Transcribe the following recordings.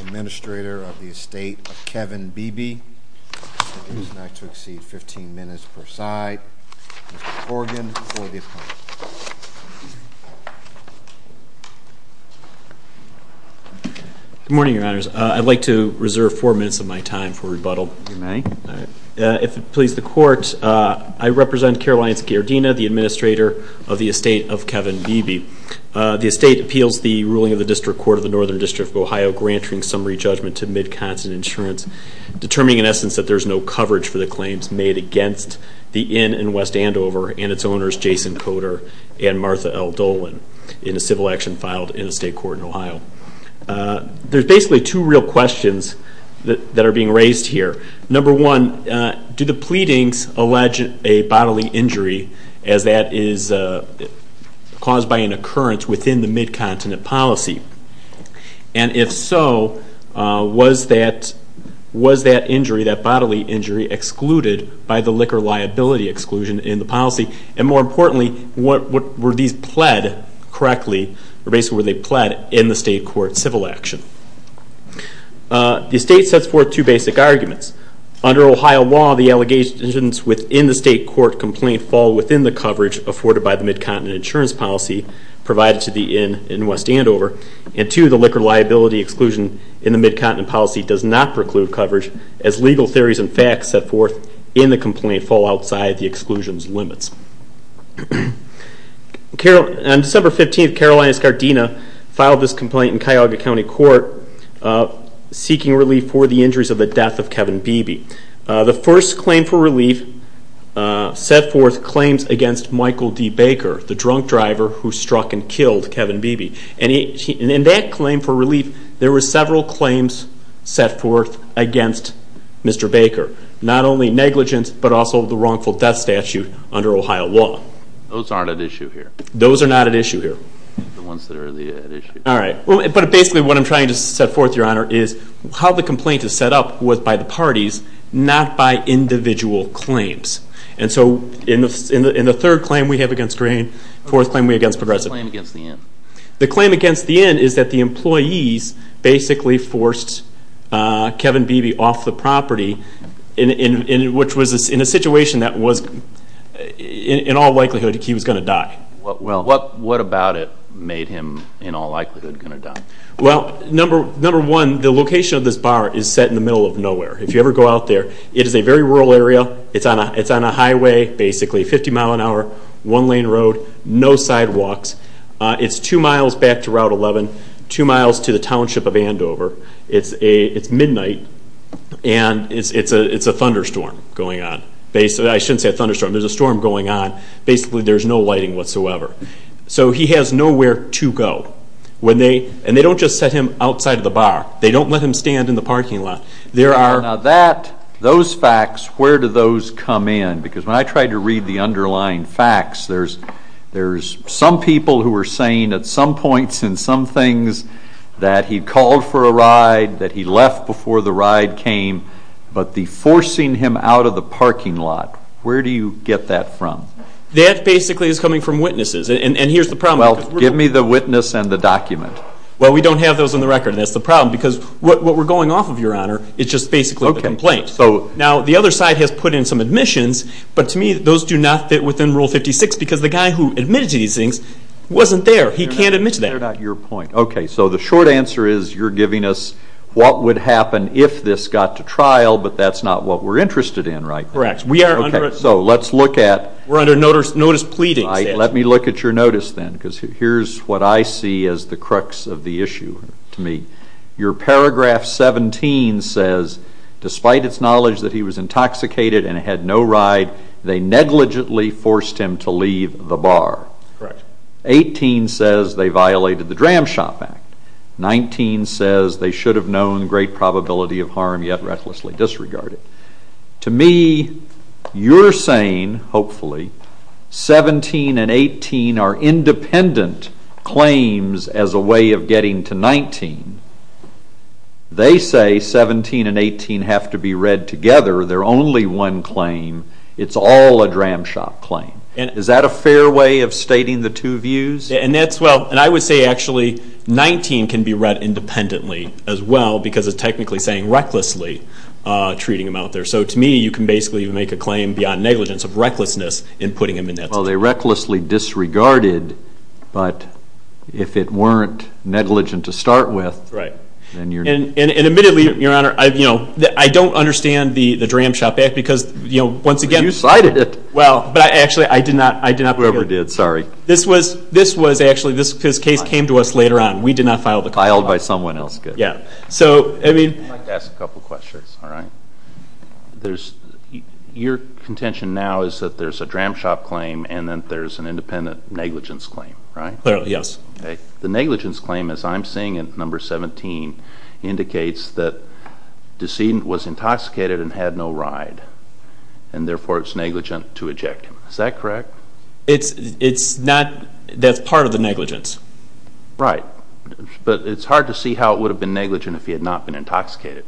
Administrator of the estate of Kevin Beebe, 15 minutes per side, Mr. Corrigan, for the appointment. Good morning, your honors. If it pleases the court, I represent Caroline Scardina, the administrator of the estate of Kevin Beebe. The estate appeals the ruling of the District Court of the Northern District of Ohio, granting summary judgment to Mid-Continent Insurance, determining in essence that there is no coverage for the claims made against the inn in West Andover and its owners, Jason Coder and Martha L. Dolan, in a civil action filed in the state court in Ohio. There's basically two real questions that are being raised here. Number one, do the pleadings allege a bodily injury as that is caused by an occurrence within the Mid-Continent policy? And if so, was that bodily injury excluded by the liquor liability exclusion in the policy? And more importantly, were these pled correctly or basically were they pled in the state court civil action? The estate sets forth two basic arguments. Under Ohio law, the allegations within the state court complaint fall within the coverage afforded by the Mid-Continent insurance policy provided to the inn in West Andover. And two, the liquor liability exclusion in the Mid-Continent policy does not preclude coverage as legal theories and facts set forth in the complaint fall outside the exclusion's On December 15th, Carolinas Gardena filed this complaint in Cuyahoga County Court seeking relief for the injuries of the death of Kevin Beebe. The first claim for relief set forth claims against Michael D. Baker, the drunk driver who struck and killed Kevin Beebe. And in that claim for relief, there were several claims set forth against Mr. Baker. Not only negligence, but also the wrongful death statute under Ohio law. Those aren't at issue here. Those are not at issue here. The ones that are at issue. All right. But basically what I'm trying to set forth, Your Honor, is how the complaint is set up was by the parties, not by individual claims. And so in the third claim we have against Green, fourth claim we have against Progressive. The claim against the inn. The claim against the inn is that the employees basically forced Kevin Beebe off the property in a situation that was, in all likelihood, he was going to die. Well, what about it made him, in all likelihood, going to die? Well, number one, the location of this bar is set in the middle of nowhere. If you ever go out there, it is a very rural area. It's on a highway, basically, 50 mile an hour, one lane road, no sidewalks. It's two miles back to Route 11, two miles to the township of Andover. It's midnight, and it's a thunderstorm going on. I shouldn't say a thunderstorm. There's a storm going on. Basically, there's no lighting whatsoever. So he has nowhere to go. And they don't just set him outside of the bar. They don't let him stand in the parking lot. Now, those facts, where do those come in? Because when I try to read the underlying facts, there's some people who are saying at some points in some things that he called for a ride, that he left before the ride came, but the forcing him out of the parking lot, where do you get that from? That basically is coming from witnesses. And here's the problem. Well, give me the witness and the document. Well, we don't have those on the record, and that's the problem, because what we're going off of, Your Honor, is just basically a complaint. Now, the other side has put in some admissions, but to me those do not fit within Rule 56 because the guy who admitted to these things wasn't there. He can't admit to that. That's not your point. Okay, so the short answer is you're giving us what would happen if this got to trial, but that's not what we're interested in right now. Correct. Okay, so let's look at... We're under notice pleading. Let me look at your notice then, because here's what I see as the crux of the issue to me. Your paragraph 17 says, Despite its knowledge that he was intoxicated and had no ride, they negligently forced him to leave the bar. Correct. 18 says they violated the Dram Shop Act. 19 says they should have known great probability of harm yet recklessly disregarded. To me, you're saying, hopefully, 17 and 18 are independent claims as a way of getting to 19. They say 17 and 18 have to be read together. They're only one claim. It's all a Dram Shop claim. Is that a fair way of stating the two views? And I would say, actually, 19 can be read independently as well because it's technically saying recklessly treating him out there. So to me, you can basically make a claim beyond negligence of recklessness in putting him in that situation. Well, they recklessly disregarded, but if it weren't negligent to start with, then you're... And admittedly, Your Honor, I don't understand the Dram Shop Act because, once again... You cited it. Well, but actually, I did not... Whoever did, sorry. This was actually... this case came to us later on. We did not file the complaint. Filed by someone else. Yeah. So, I mean... I'd like to ask a couple questions, all right? There's... your contention now is that there's a Dram Shop claim and then there's an independent negligence claim, right? Clearly, yes. The negligence claim, as I'm seeing it, number 17, indicates that the decedent was intoxicated and had no ride, and therefore it's negligent to eject him. Is that correct? It's not... that's part of the negligence. Right. But it's hard to see how it would have been negligent if he had not been intoxicated.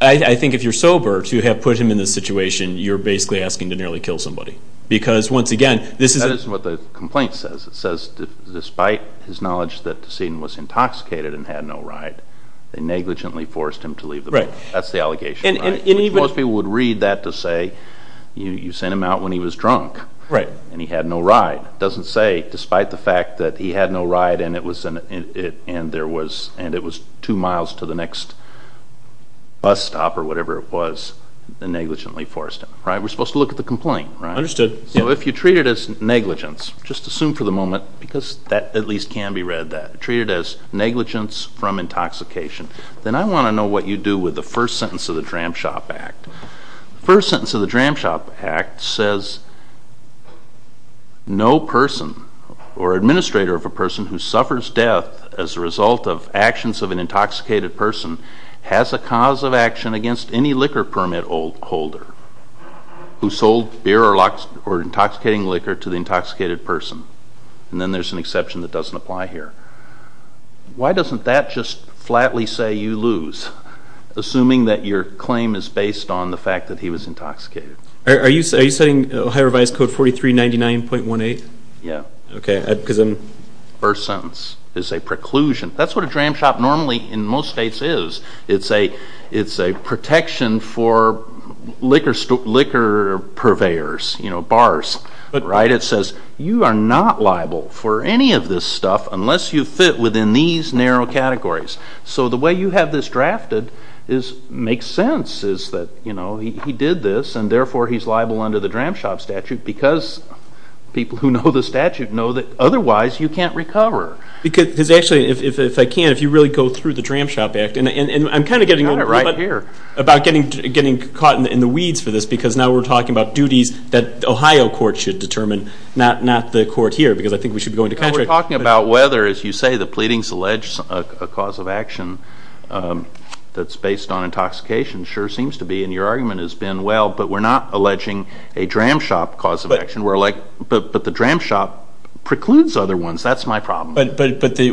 I think if you're sober to have put him in this situation, you're basically asking to nearly kill somebody because, once again, this is... That isn't what the complaint says. It says, despite his knowledge that the decedent was intoxicated and had no ride, they negligently forced him to leave the building. That's the allegation, right? And even... Most people would read that to say, you sent him out when he was drunk. Right. And he had no ride. It doesn't say, despite the fact that he had no ride and it was two miles to the next bus stop or whatever it was, they negligently forced him. Right? We're supposed to look at the complaint, right? Understood. So if you treat it as negligence, just assume for the moment, because that at least can be read that, treat it as negligence from intoxication, then I want to know what you do with the first sentence of the Dram Shop Act. The first sentence of the Dram Shop Act says, no person or administrator of a person who suffers death as a result of actions of an intoxicated person has a cause of action against any liquor permit holder who sold beer or intoxicating liquor to the intoxicated person. And then there's an exception that doesn't apply here. Why doesn't that just flatly say you lose, assuming that your claim is based on the fact that he was intoxicated? Are you citing Ohio Revised Code 4399.18? Yeah. Okay. First sentence is a preclusion. That's what a Dram Shop normally in most states is. It's a protection for liquor purveyors, you know, bars, right? It says you are not liable for any of this stuff unless you fit within these narrow categories. So the way you have this drafted makes sense, is that, you know, he did this, and therefore he's liable under the Dram Shop statute because people who know the statute know that otherwise you can't recover. Because actually, if I can, if you really go through the Dram Shop Act, and I'm kind of getting old about getting caught in the weeds for this because now we're talking about duties that Ohio courts should determine, not the court here because I think we should be going to contract. You're talking about whether, as you say, the pleadings allege a cause of action that's based on intoxication. It sure seems to be, and your argument has been well, but we're not alleging a Dram Shop cause of action. But the Dram Shop precludes other ones. That's my problem. But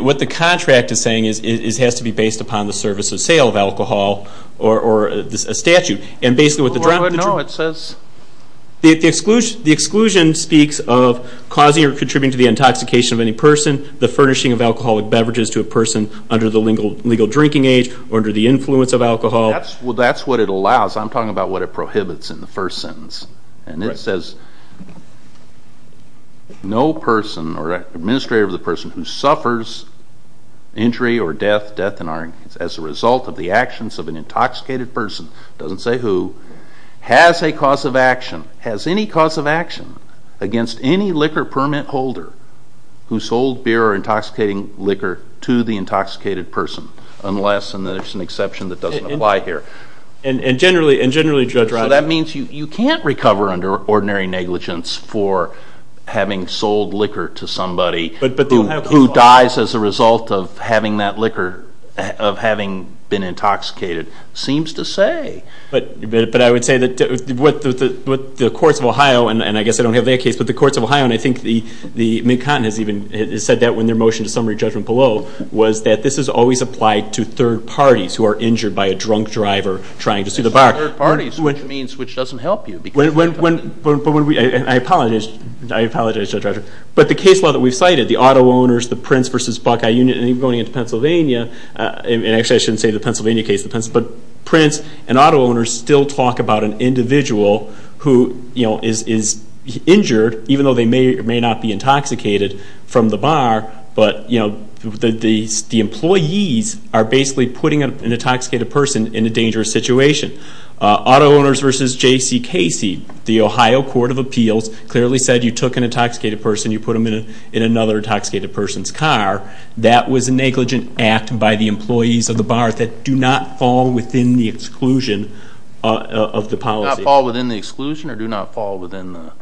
what the contract is saying is it has to be based upon the service of sale of alcohol or a statute. No, it says. The exclusion speaks of causing or contributing to the intoxication of any person, the furnishing of alcoholic beverages to a person under the legal drinking age or under the influence of alcohol. Well, that's what it allows. I'm talking about what it prohibits in the first sentence. And it says no person or administrator of the person who suffers injury or death, death as a result of the actions of an intoxicated person, it doesn't say who, has a cause of action, has any cause of action against any liquor permit holder who sold beer or intoxicating liquor to the intoxicated person unless, and there's an exception that doesn't apply here. And generally, Judge Roddick. So that means you can't recover under ordinary negligence for having sold liquor to somebody who dies as a result of having that liquor, of having been intoxicated. It seems to say. But I would say that what the courts of Ohio, and I guess I don't have their case, but the courts of Ohio, and I think the Mid-Continent has said that in their motion to summary judgment below, was that this is always applied to third parties who are injured by a drunk driver trying to sue the bar. Third parties, which means which doesn't help you. I apologize, Judge Roddick. But the case law that we've cited, the auto owners, the Prince v. Buckeye Union, and even going into Pennsylvania, and actually I shouldn't say the Pennsylvania case, but Prince and auto owners still talk about an individual who is injured, even though they may or may not be intoxicated from the bar, but the employees are basically putting an intoxicated person in a dangerous situation. Auto owners v. J.C. Casey, the Ohio Court of Appeals, clearly said you took an intoxicated person, you put them in another intoxicated person's car. That was a negligent act by the employees of the bar that do not fall within the exclusion of the policy. Do not fall within the exclusion or do not fall within the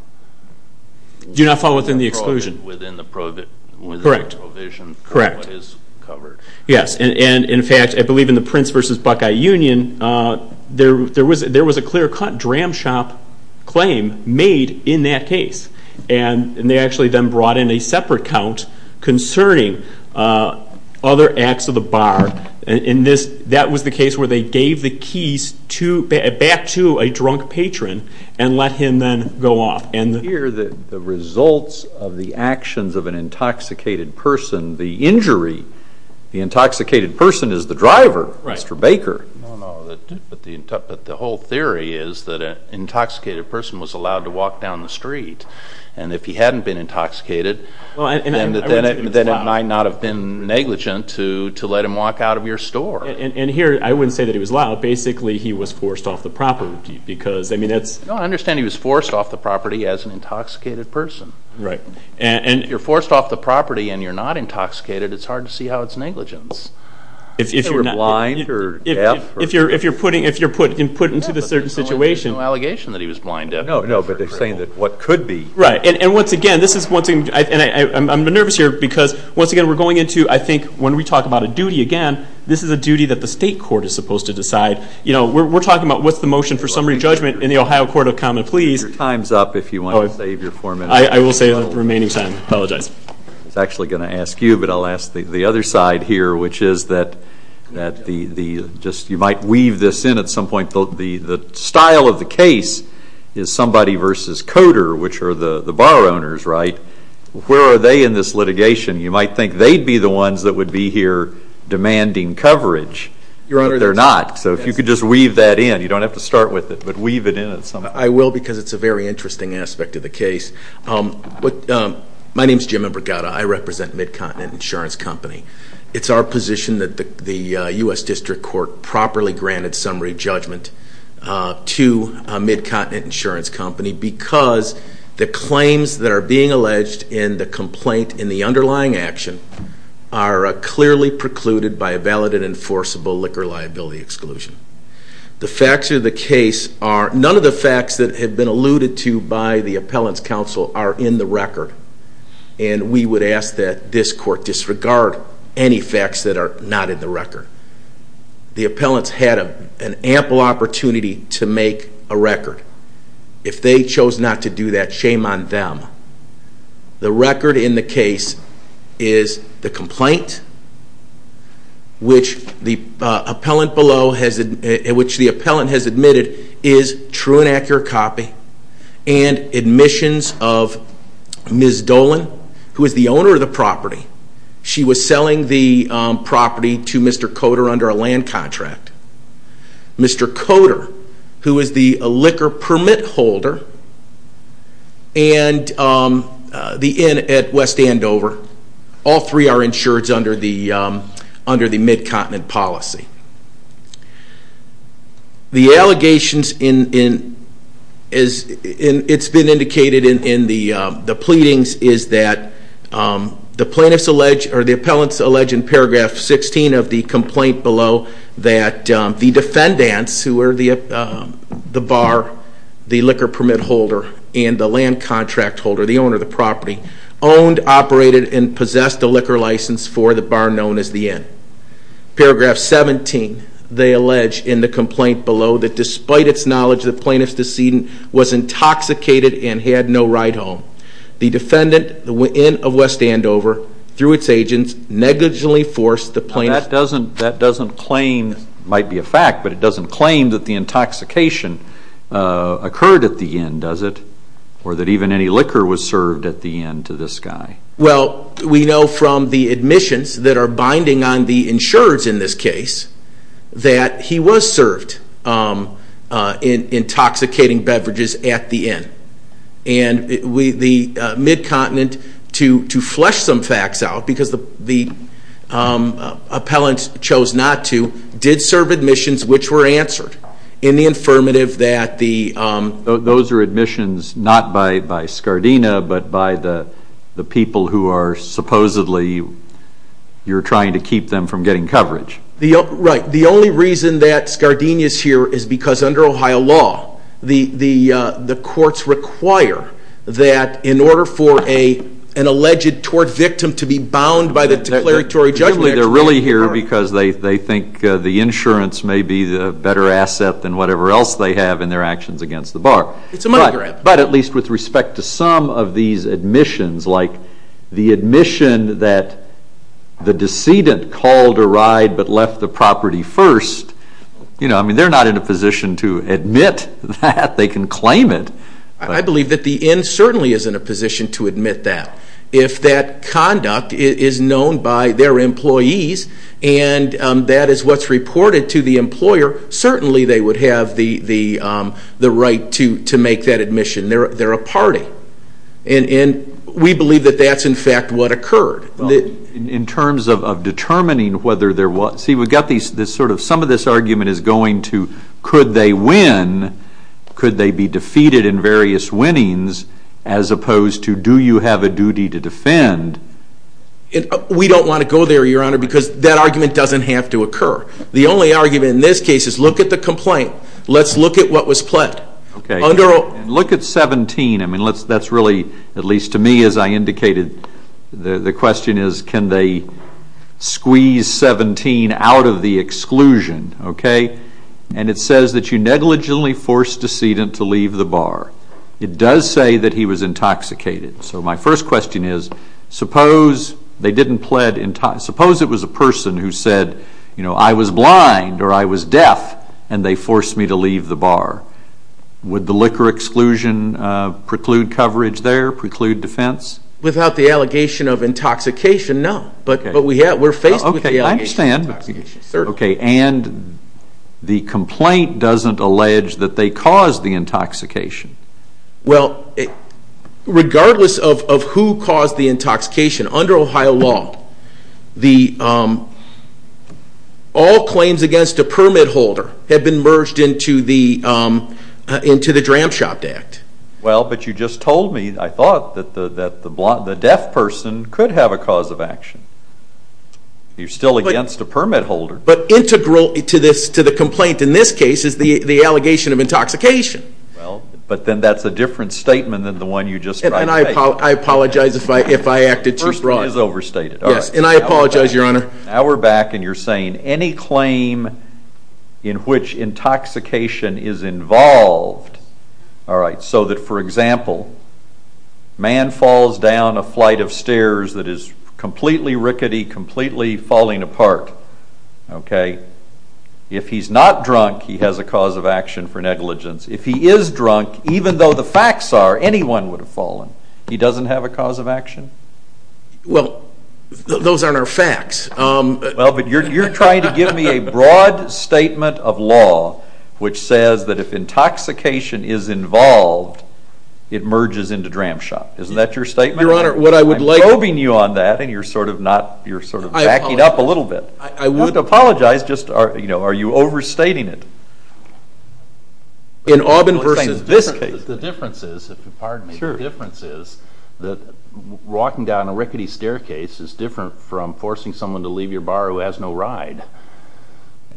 provision? Do not fall within the exclusion. Within the provision of what is covered. Correct. Yes, and in fact, I believe in the Prince v. Buckeye Union, there was a clear-cut dram shop claim made in that case, and they actually then brought in a separate count concerning other acts of the bar, and that was the case where they gave the keys back to a drunk patron and let him then go off. Here, the results of the actions of an intoxicated person, the injury, the intoxicated person is the driver, Mr. Baker. No, no, but the whole theory is that an intoxicated person was allowed to walk down the street, and if he hadn't been intoxicated, then it might not have been negligent to let him walk out of your store. And here, I wouldn't say that he was allowed. Basically, he was forced off the property because, I mean, that's— No, I understand he was forced off the property as an intoxicated person. Right. And if you're forced off the property and you're not intoxicated, it's hard to see how it's negligence. If you're blind or deaf. If you're put into this certain situation. There's no allegation that he was blind or deaf. No, no, but they're saying that what could be. Right. And once again, this is one thing, and I'm nervous here because, once again, we're going into, I think, when we talk about a duty again, this is a duty that the state court is supposed to decide. You know, we're talking about what's the motion for summary judgment in the Ohio Court of Common Pleas. Your time's up if you want to save your foreman. I will save the remaining time. I apologize. I was actually going to ask you, but I'll ask the other side here, which is that you might weave this in at some point. The style of the case is somebody versus Coder, which are the bar owners, right? Where are they in this litigation? You might think they'd be the ones that would be here demanding coverage. Your Honor— But they're not. So if you could just weave that in. You don't have to start with it, but weave it in at some point. I will because it's a very interesting aspect of the case. My name's Jim Imbregata. I represent Mid-Continent Insurance Company. It's our position that the U.S. District Court properly granted summary judgment to Mid-Continent Insurance Company because the claims that are being alleged in the complaint in the underlying action are clearly precluded by a valid and enforceable liquor liability exclusion. The facts of the case are—none of the facts that have been alluded to by the appellant's counsel are in the record. And we would ask that this court disregard any facts that are not in the record. The appellant's had an ample opportunity to make a record. If they chose not to do that, shame on them. The record in the case is the complaint, which the appellant below has—which the appellant has admitted is true and accurate copy and admissions of Ms. Dolan, who is the owner of the property. She was selling the property to Mr. Coder under a land contract. Mr. Coder, who is the liquor permit holder at West Andover, all three are insured under the Mid-Continent policy. The allegations in—it's been indicated in the pleadings is that the plaintiff's alleged— that the defendants, who are the bar, the liquor permit holder, and the land contract holder, the owner of the property, owned, operated, and possessed a liquor license for the bar known as The Inn. Paragraph 17, they allege in the complaint below that despite its knowledge, the plaintiff's decedent was intoxicated and had no ride home. The defendant, the Inn of West Andover, through its agents, negligently forced the plaintiff— That doesn't claim—might be a fact, but it doesn't claim that the intoxication occurred at the Inn, does it? Or that even any liquor was served at the Inn to this guy? Well, we know from the admissions that are binding on the insurers in this case that he was served intoxicating beverages at the Inn. And the Mid-Continent, to flesh some facts out, because the appellant chose not to, did serve admissions which were answered in the affirmative that the— Those are admissions not by Scardina, but by the people who are supposedly—you're trying to keep them from getting coverage. Right. The only reason that Scardina is here is because under Ohio law, the courts require that in order for an alleged tort victim to be bound by the declaratory judgment— They're really here because they think the insurance may be the better asset than whatever else they have in their actions against the bar. It's a money grab. But at least with respect to some of these admissions, like the admission that the decedent called a ride but left the property first, they're not in a position to admit that. They can claim it. I believe that the Inn certainly is in a position to admit that. If that conduct is known by their employees and that is what's reported to the employer, certainly they would have the right to make that admission. They're a party. And we believe that that's, in fact, what occurred. In terms of determining whether there was—see, we've got this sort of—some of this argument is going to could they win, could they be defeated in various winnings, as opposed to do you have a duty to defend? We don't want to go there, Your Honor, because that argument doesn't have to occur. The only argument in this case is look at the complaint. Let's look at what was pled. Look at 17. That's really, at least to me, as I indicated, the question is can they squeeze 17 out of the exclusion? And it says that you negligently forced decedent to leave the bar. It does say that he was intoxicated. So my first question is suppose they didn't pled—suppose it was a person who said, you know, I was blind or I was deaf and they forced me to leave the bar. Would the liquor exclusion preclude coverage there, preclude defense? Without the allegation of intoxication, no. But we're faced with the allegation of intoxication. Okay, I understand. Certainly. And the complaint doesn't allege that they caused the intoxication. Well, regardless of who caused the intoxication, under Ohio law, all claims against a permit holder have been merged into the Dram Shopped Act. Well, but you just told me, I thought that the deaf person could have a cause of action. You're still against a permit holder. But integral to the complaint in this case is the allegation of intoxication. Well, but then that's a different statement than the one you just tried to make. And I apologize if I acted too broad. The first one is overstated. Yes, and I apologize, Your Honor. Now we're back and you're saying any claim in which intoxication is involved, all right, so that, for example, man falls down a flight of stairs that is completely rickety, completely falling apart, okay, if he's not drunk he has a cause of action for negligence. If he is drunk, even though the facts are, anyone would have fallen. He doesn't have a cause of action? Well, those aren't our facts. Well, but you're trying to give me a broad statement of law which says that if intoxication is involved, it merges into Dram Shopped. Isn't that your statement? Your Honor, what I would like— I'm probing you on that and you're sort of not, you're sort of backing up a little bit. I would— You don't have to apologize, just, you know, are you overstating it? In Auburn versus this case. The difference is, if you'll pardon me, the difference is that walking down a rickety staircase is different from forcing someone to leave your bar who has no ride.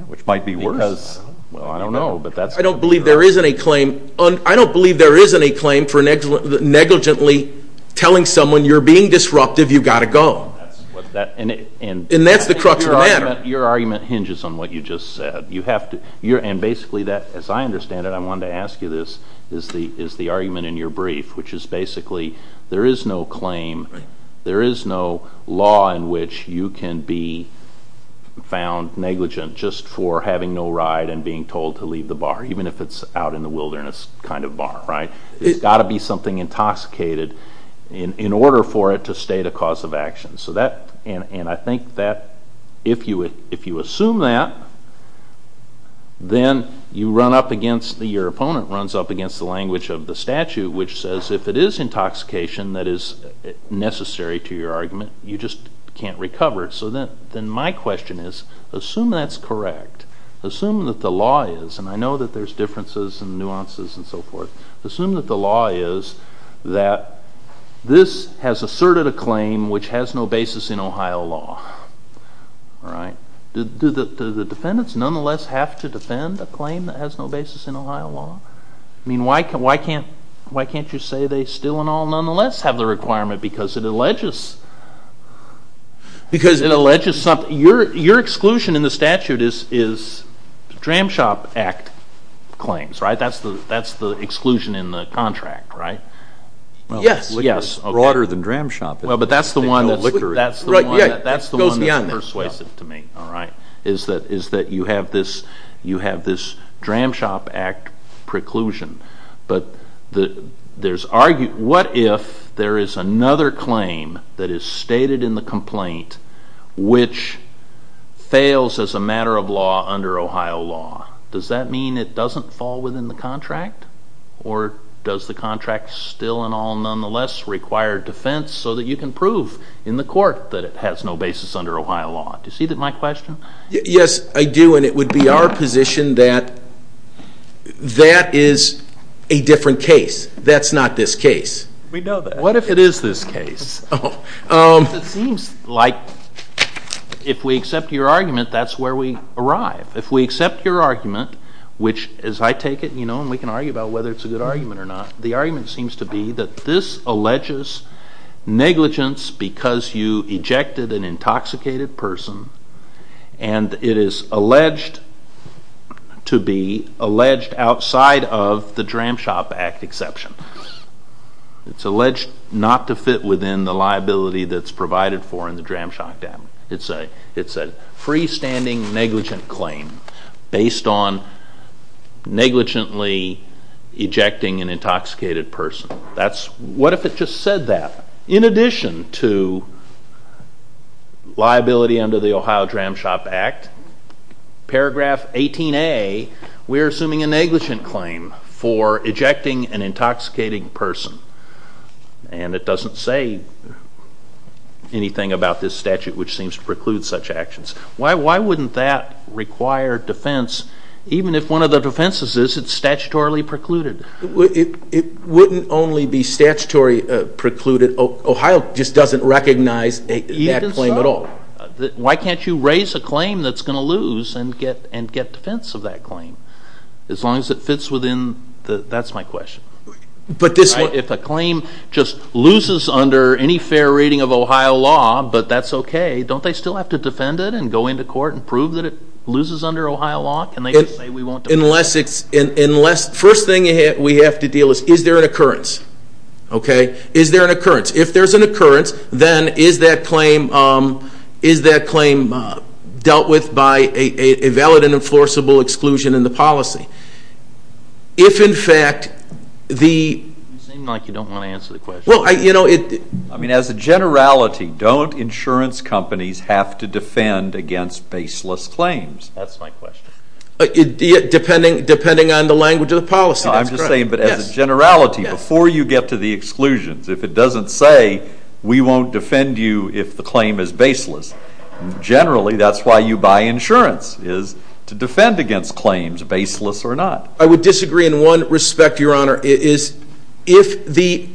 Which might be worse. Because, well, I don't know, but that's— I don't believe there is any claim, I don't believe there is any claim for negligently telling someone you're being disruptive, you've got to go. And that's the crux of the matter. Your argument hinges on what you just said. You have to—and basically that, as I understand it, I wanted to ask you this, is the argument in your brief, which is basically there is no claim, there is no law in which you can be found negligent just for having no ride and being told to leave the bar, even if it's out in the wilderness kind of bar, right? There's got to be something intoxicated in order for it to state a cause of action. So that—and I think that if you assume that, then you run up against—your opponent runs up against the language of the statute, which says if it is intoxication that is necessary to your argument, you just can't recover it. So then my question is, assume that's correct. Assume that the law is, and I know that there's differences and nuances and so forth. Assume that the law is that this has asserted a claim which has no basis in Ohio law, right? Do the defendants nonetheless have to defend a claim that has no basis in Ohio law? I mean, why can't you say they still and all nonetheless have the requirement because it alleges something? Your exclusion in the statute is the Dramshop Act claims, right? That's the exclusion in the contract, right? Yes. Liquor is broader than Dramshop. But that's the one that's persuasive to me, is that you have this Dramshop Act preclusion. But what if there is another claim that is stated in the complaint which fails as a matter of law under Ohio law? Does that mean it doesn't fall within the contract? Or does the contract still and all nonetheless require defense so that you can prove in the court that it has no basis under Ohio law? Do you see my question? Yes, I do, and it would be our position that that is a different case. That's not this case. We know that. What if it is this case? It seems like if we accept your argument, that's where we arrive. If we accept your argument, which, as I take it, you know, and we can argue about whether it's a good argument or not, the argument seems to be that this alleges negligence because you ejected an intoxicated person, and it is alleged to be alleged outside of the Dramshop Act exception. It's alleged not to fit within the liability that's provided for in the Dramshop Act. It's a freestanding negligent claim based on negligently ejecting an intoxicated person. What if it just said that? In addition to liability under the Ohio Dramshop Act, paragraph 18A, we're assuming a negligent claim for ejecting an intoxicating person, and it doesn't say anything about this statute, which seems to preclude such actions. Why wouldn't that require defense, even if one of the defenses is it's statutorily precluded? It wouldn't only be statutorily precluded. Ohio just doesn't recognize that claim at all. Even so, why can't you raise a claim that's going to lose and get defense of that claim? As long as it fits within the, that's my question. If a claim just loses under any fair reading of Ohio law, but that's okay, don't they still have to defend it and go into court and prove that it loses under Ohio law? First thing we have to deal with is, is there an occurrence? Is there an occurrence? If there's an occurrence, then is that claim dealt with by a valid and enforceable exclusion in the policy? If, in fact, the... You seem like you don't want to answer the question. Well, you know... I mean, as a generality, don't insurance companies have to defend against baseless claims? That's my question. Depending on the language of the policy, that's correct. I'm just saying, but as a generality, before you get to the exclusions, generally that's why you buy insurance, is to defend against claims, baseless or not. I would disagree in one respect, Your Honor, is if the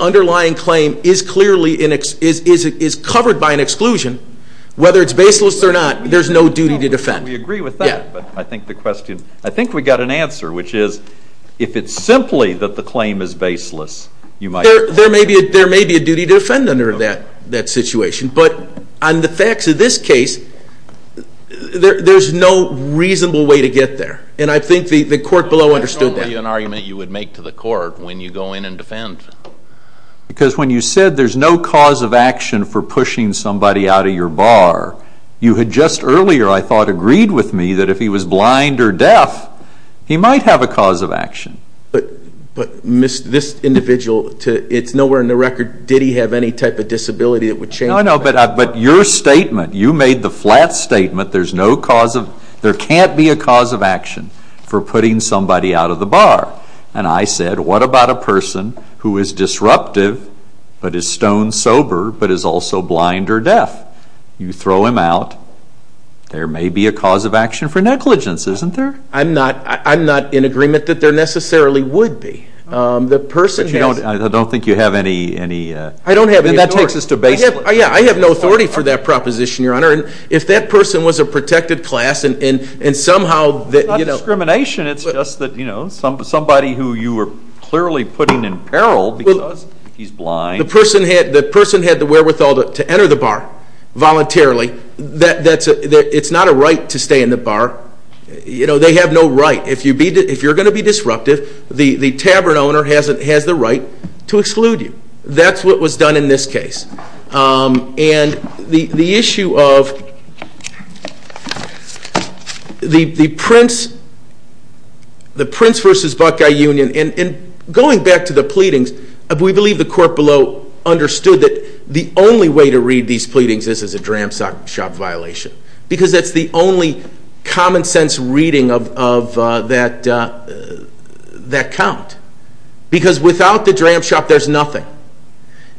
underlying claim is clearly, is covered by an exclusion, whether it's baseless or not, there's no duty to defend. We agree with that, but I think the question... I think we got an answer, which is, if it's simply that the claim is baseless, you might... There may be a duty to defend under that situation, but on the facts of this case, there's no reasonable way to get there. And I think the court below understood that. That's only an argument you would make to the court when you go in and defend. Because when you said there's no cause of action for pushing somebody out of your bar, you had just earlier, I thought, agreed with me that if he was blind or deaf, he might have a cause of action. But this individual, it's nowhere in the record, did he have any type of disability that would change that. No, no, but your statement, you made the flat statement, there's no cause of, there can't be a cause of action for putting somebody out of the bar. And I said, what about a person who is disruptive, but is stone sober, but is also blind or deaf? You throw him out, there may be a cause of action for negligence, isn't there? I'm not in agreement that there necessarily would be. The person has- I don't think you have any- I don't have any- And that takes us to basically- Yeah, I have no authority for that proposition, Your Honor. If that person was a protected class and somehow- It's not discrimination, it's just that somebody who you were clearly putting in peril because he's blind- The person had the wherewithal to enter the bar voluntarily. It's not a right to stay in the bar. They have no right. If you're going to be disruptive, the tavern owner has the right to exclude you. That's what was done in this case. And the issue of the Prince versus Buckeye Union, and going back to the pleadings, we believe the court below understood that the only way to read these pleadings is as a dram shop violation. Because that's the only common sense reading of that count. Because without the dram shop, there's nothing.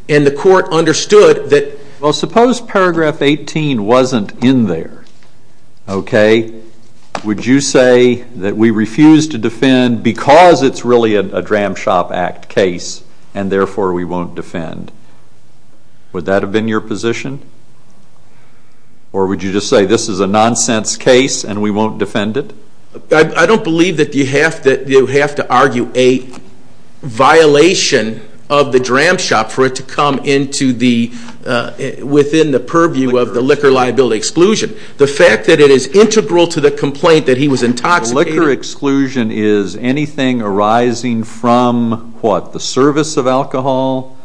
And the court understood that- Well, suppose paragraph 18 wasn't in there, okay? Would you say that we refuse to defend because it's really a dram shop act case, and therefore we won't defend? Would that have been your position? Or would you just say this is a nonsense case and we won't defend it? I don't believe that you have to argue a violation of the dram shop for it to come within the purview of the liquor liability exclusion. The fact that it is integral to the complaint that he was intoxicated- The liquor exclusion is anything arising from, what, the service of alcohol?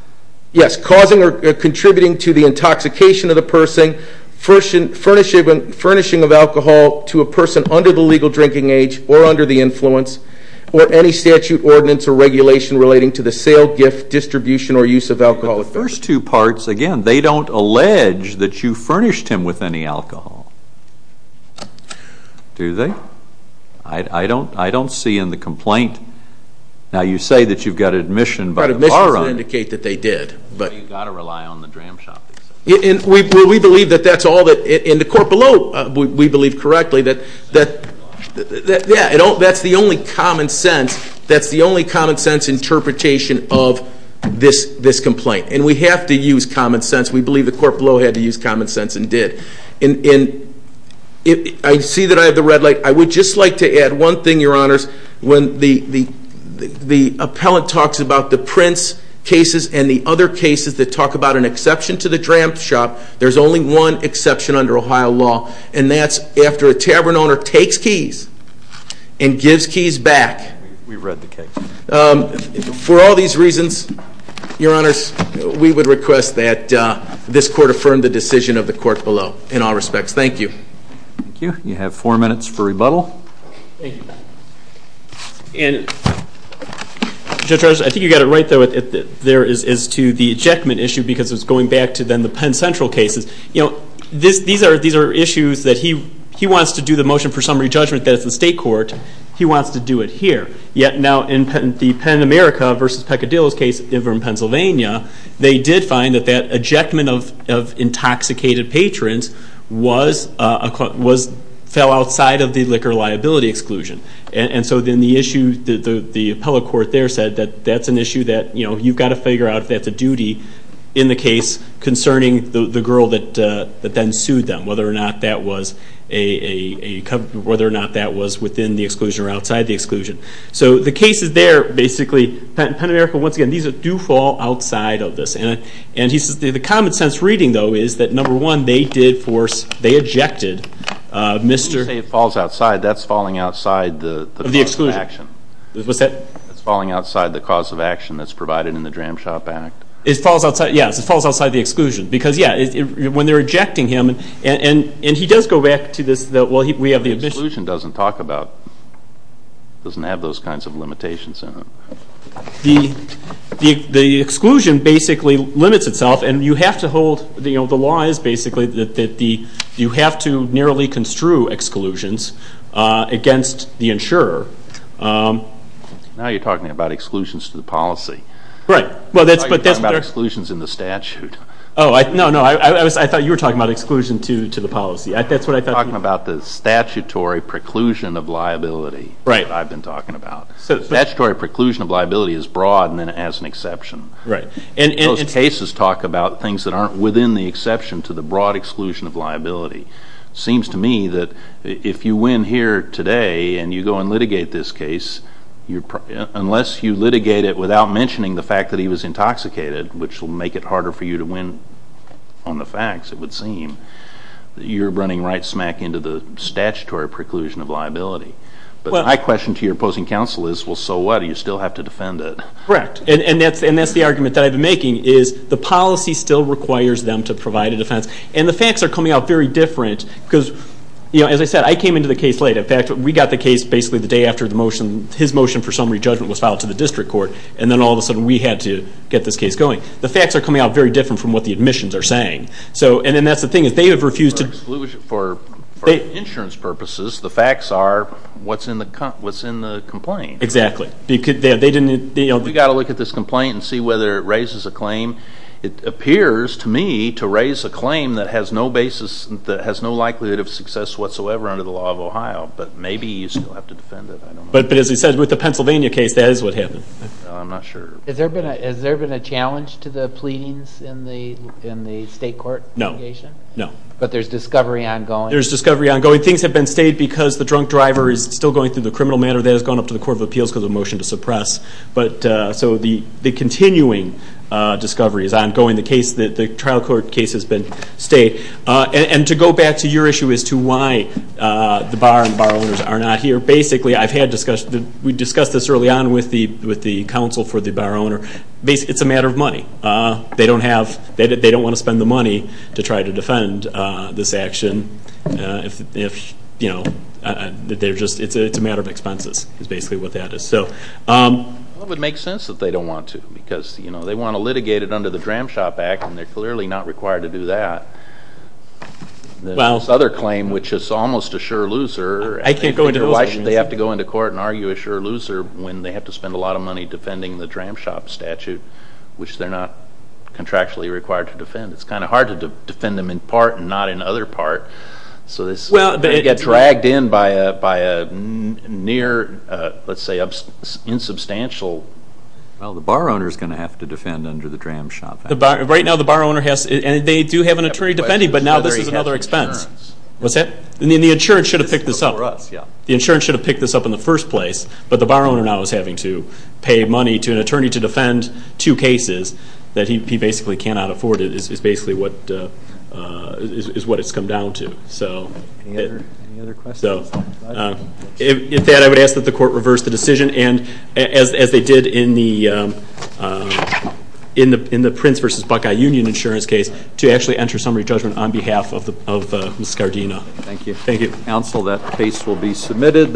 Yes, causing or contributing to the intoxication of the person, furnishing of alcohol to a person under the legal drinking age or under the influence, or any statute, ordinance, or regulation relating to the sale, gift, distribution, or use of alcohol. The first two parts, again, they don't allege that you furnished him with any alcohol, do they? I don't see in the complaint. Now, you say that you've got admission by the bar on it. I've got admission to indicate that they did. You've got to rely on the dram shop. We believe that that's all that, and the court below, we believe correctly that, yeah, that's the only common sense, that's the only common sense interpretation of this complaint. And we have to use common sense. We believe the court below had to use common sense and did. I see that I have the red light. I would just like to add one thing, Your Honors. When the appellant talks about the Prince cases and the other cases that talk about an exception to the dram shop, there's only one exception under Ohio law, and that's after a tavern owner takes keys and gives keys back. We read the case. For all these reasons, Your Honors, we would request that this court affirm the decision of the court below. In all respects, thank you. Thank you. You have four minutes for rebuttal. Thank you. And Judge Rogers, I think you got it right, though, there is to the ejectment issue because it's going back to then the Penn Central cases. You know, these are issues that he wants to do the motion for summary judgment, that's the state court. He wants to do it here. Yet now in the Penn America v. Peccadillo's case in Pennsylvania, they did find that that ejectment of intoxicated patrons fell outside of the liquor liability exclusion. And so then the issue, the appellate court there said that that's an issue that, you know, you've got to figure out if that's a duty in the case concerning the girl that then sued them, whether or not that was within the exclusion or outside the exclusion. So the cases there basically, Penn America, once again, these do fall outside of this. And he says the common sense reading, though, is that, number one, they did force, they ejected Mr. When you say it falls outside, that's falling outside the cause of action. What's that? It's falling outside the cause of action that's provided in the Dram Shop Act. It falls outside, yes, it falls outside the exclusion. Because, yes, when they're ejecting him, and he does go back to this, well, we have the admission. The exclusion doesn't talk about, doesn't have those kinds of limitations in it. The exclusion basically limits itself, and you have to hold, you know, the law is basically that you have to nearly construe exclusions against the insurer. Now you're talking about exclusions to the policy. Right. Now you're talking about exclusions in the statute. Oh, no, no, I thought you were talking about exclusion to the policy. That's what I thought you were talking about. I'm talking about the statutory preclusion of liability. Right. That I've been talking about. Statutory preclusion of liability is broad and then it has an exception. Right. And those cases talk about things that aren't within the exception to the broad exclusion of liability. It seems to me that if you win here today and you go and litigate this case, unless you litigate it without mentioning the fact that he was intoxicated, which will make it harder for you to win on the facts, it would seem, that you're running right smack into the statutory preclusion of liability. But my question to your opposing counsel is, well, so what? Do you still have to defend it? Correct, and that's the argument that I've been making, is the policy still requires them to provide a defense. And the facts are coming out very different because, you know, as I said, I came into the case late. In fact, we got the case basically the day after the motion, his motion for summary judgment was filed to the district court, and then all of a sudden we had to get this case going. The facts are coming out very different from what the admissions are saying. And that's the thing is they have refused to For insurance purposes, the facts are what's in the complaint. Exactly. You've got to look at this complaint and see whether it raises a claim. It appears to me to raise a claim that has no basis, that has no likelihood of success whatsoever under the law of Ohio. But maybe you still have to defend it. But as he said, with the Pennsylvania case, that is what happened. I'm not sure. Has there been a challenge to the pleadings in the state court? No. But there's discovery ongoing. There's discovery ongoing. Things have been stayed because the drunk driver is still going through the criminal matter. That has gone up to the Court of Appeals because of the motion to suppress. So the continuing discovery is ongoing. The trial court case has been stayed. And to go back to your issue as to why the bar and the bar owners are not here, basically, we discussed this early on with the counsel for the bar owner. It's a matter of money. They don't want to spend the money to try to defend this action. It's a matter of expenses is basically what that is. Well, it would make sense that they don't want to because they want to litigate it under the Dram Shop Act, and they're clearly not required to do that. This other claim, which is almost a sure loser. I can't go into those. Why should they have to go into court and argue a sure loser when they have to spend a lot of money defending the Dram Shop statute, which they're not contractually required to defend? It's kind of hard to defend them in part and not in other part. So they get dragged in by a near, let's say, insubstantial. Well, the bar owner is going to have to defend under the Dram Shop Act. Right now the bar owner has to, and they do have an attorney defending, but now this is another expense. What's that? The insurance should have picked this up. The insurance should have picked this up in the first place, but the bar owner now is having to pay money to an attorney to defend two cases that he basically cannot afford. It's basically what it's come down to. With that, I would ask that the court reverse the decision, as they did in the Prince v. Buckeye Union insurance case, to actually enter summary judgment on behalf of Mrs. Gardena. Thank you. Thank you, counsel. That case will be submitted.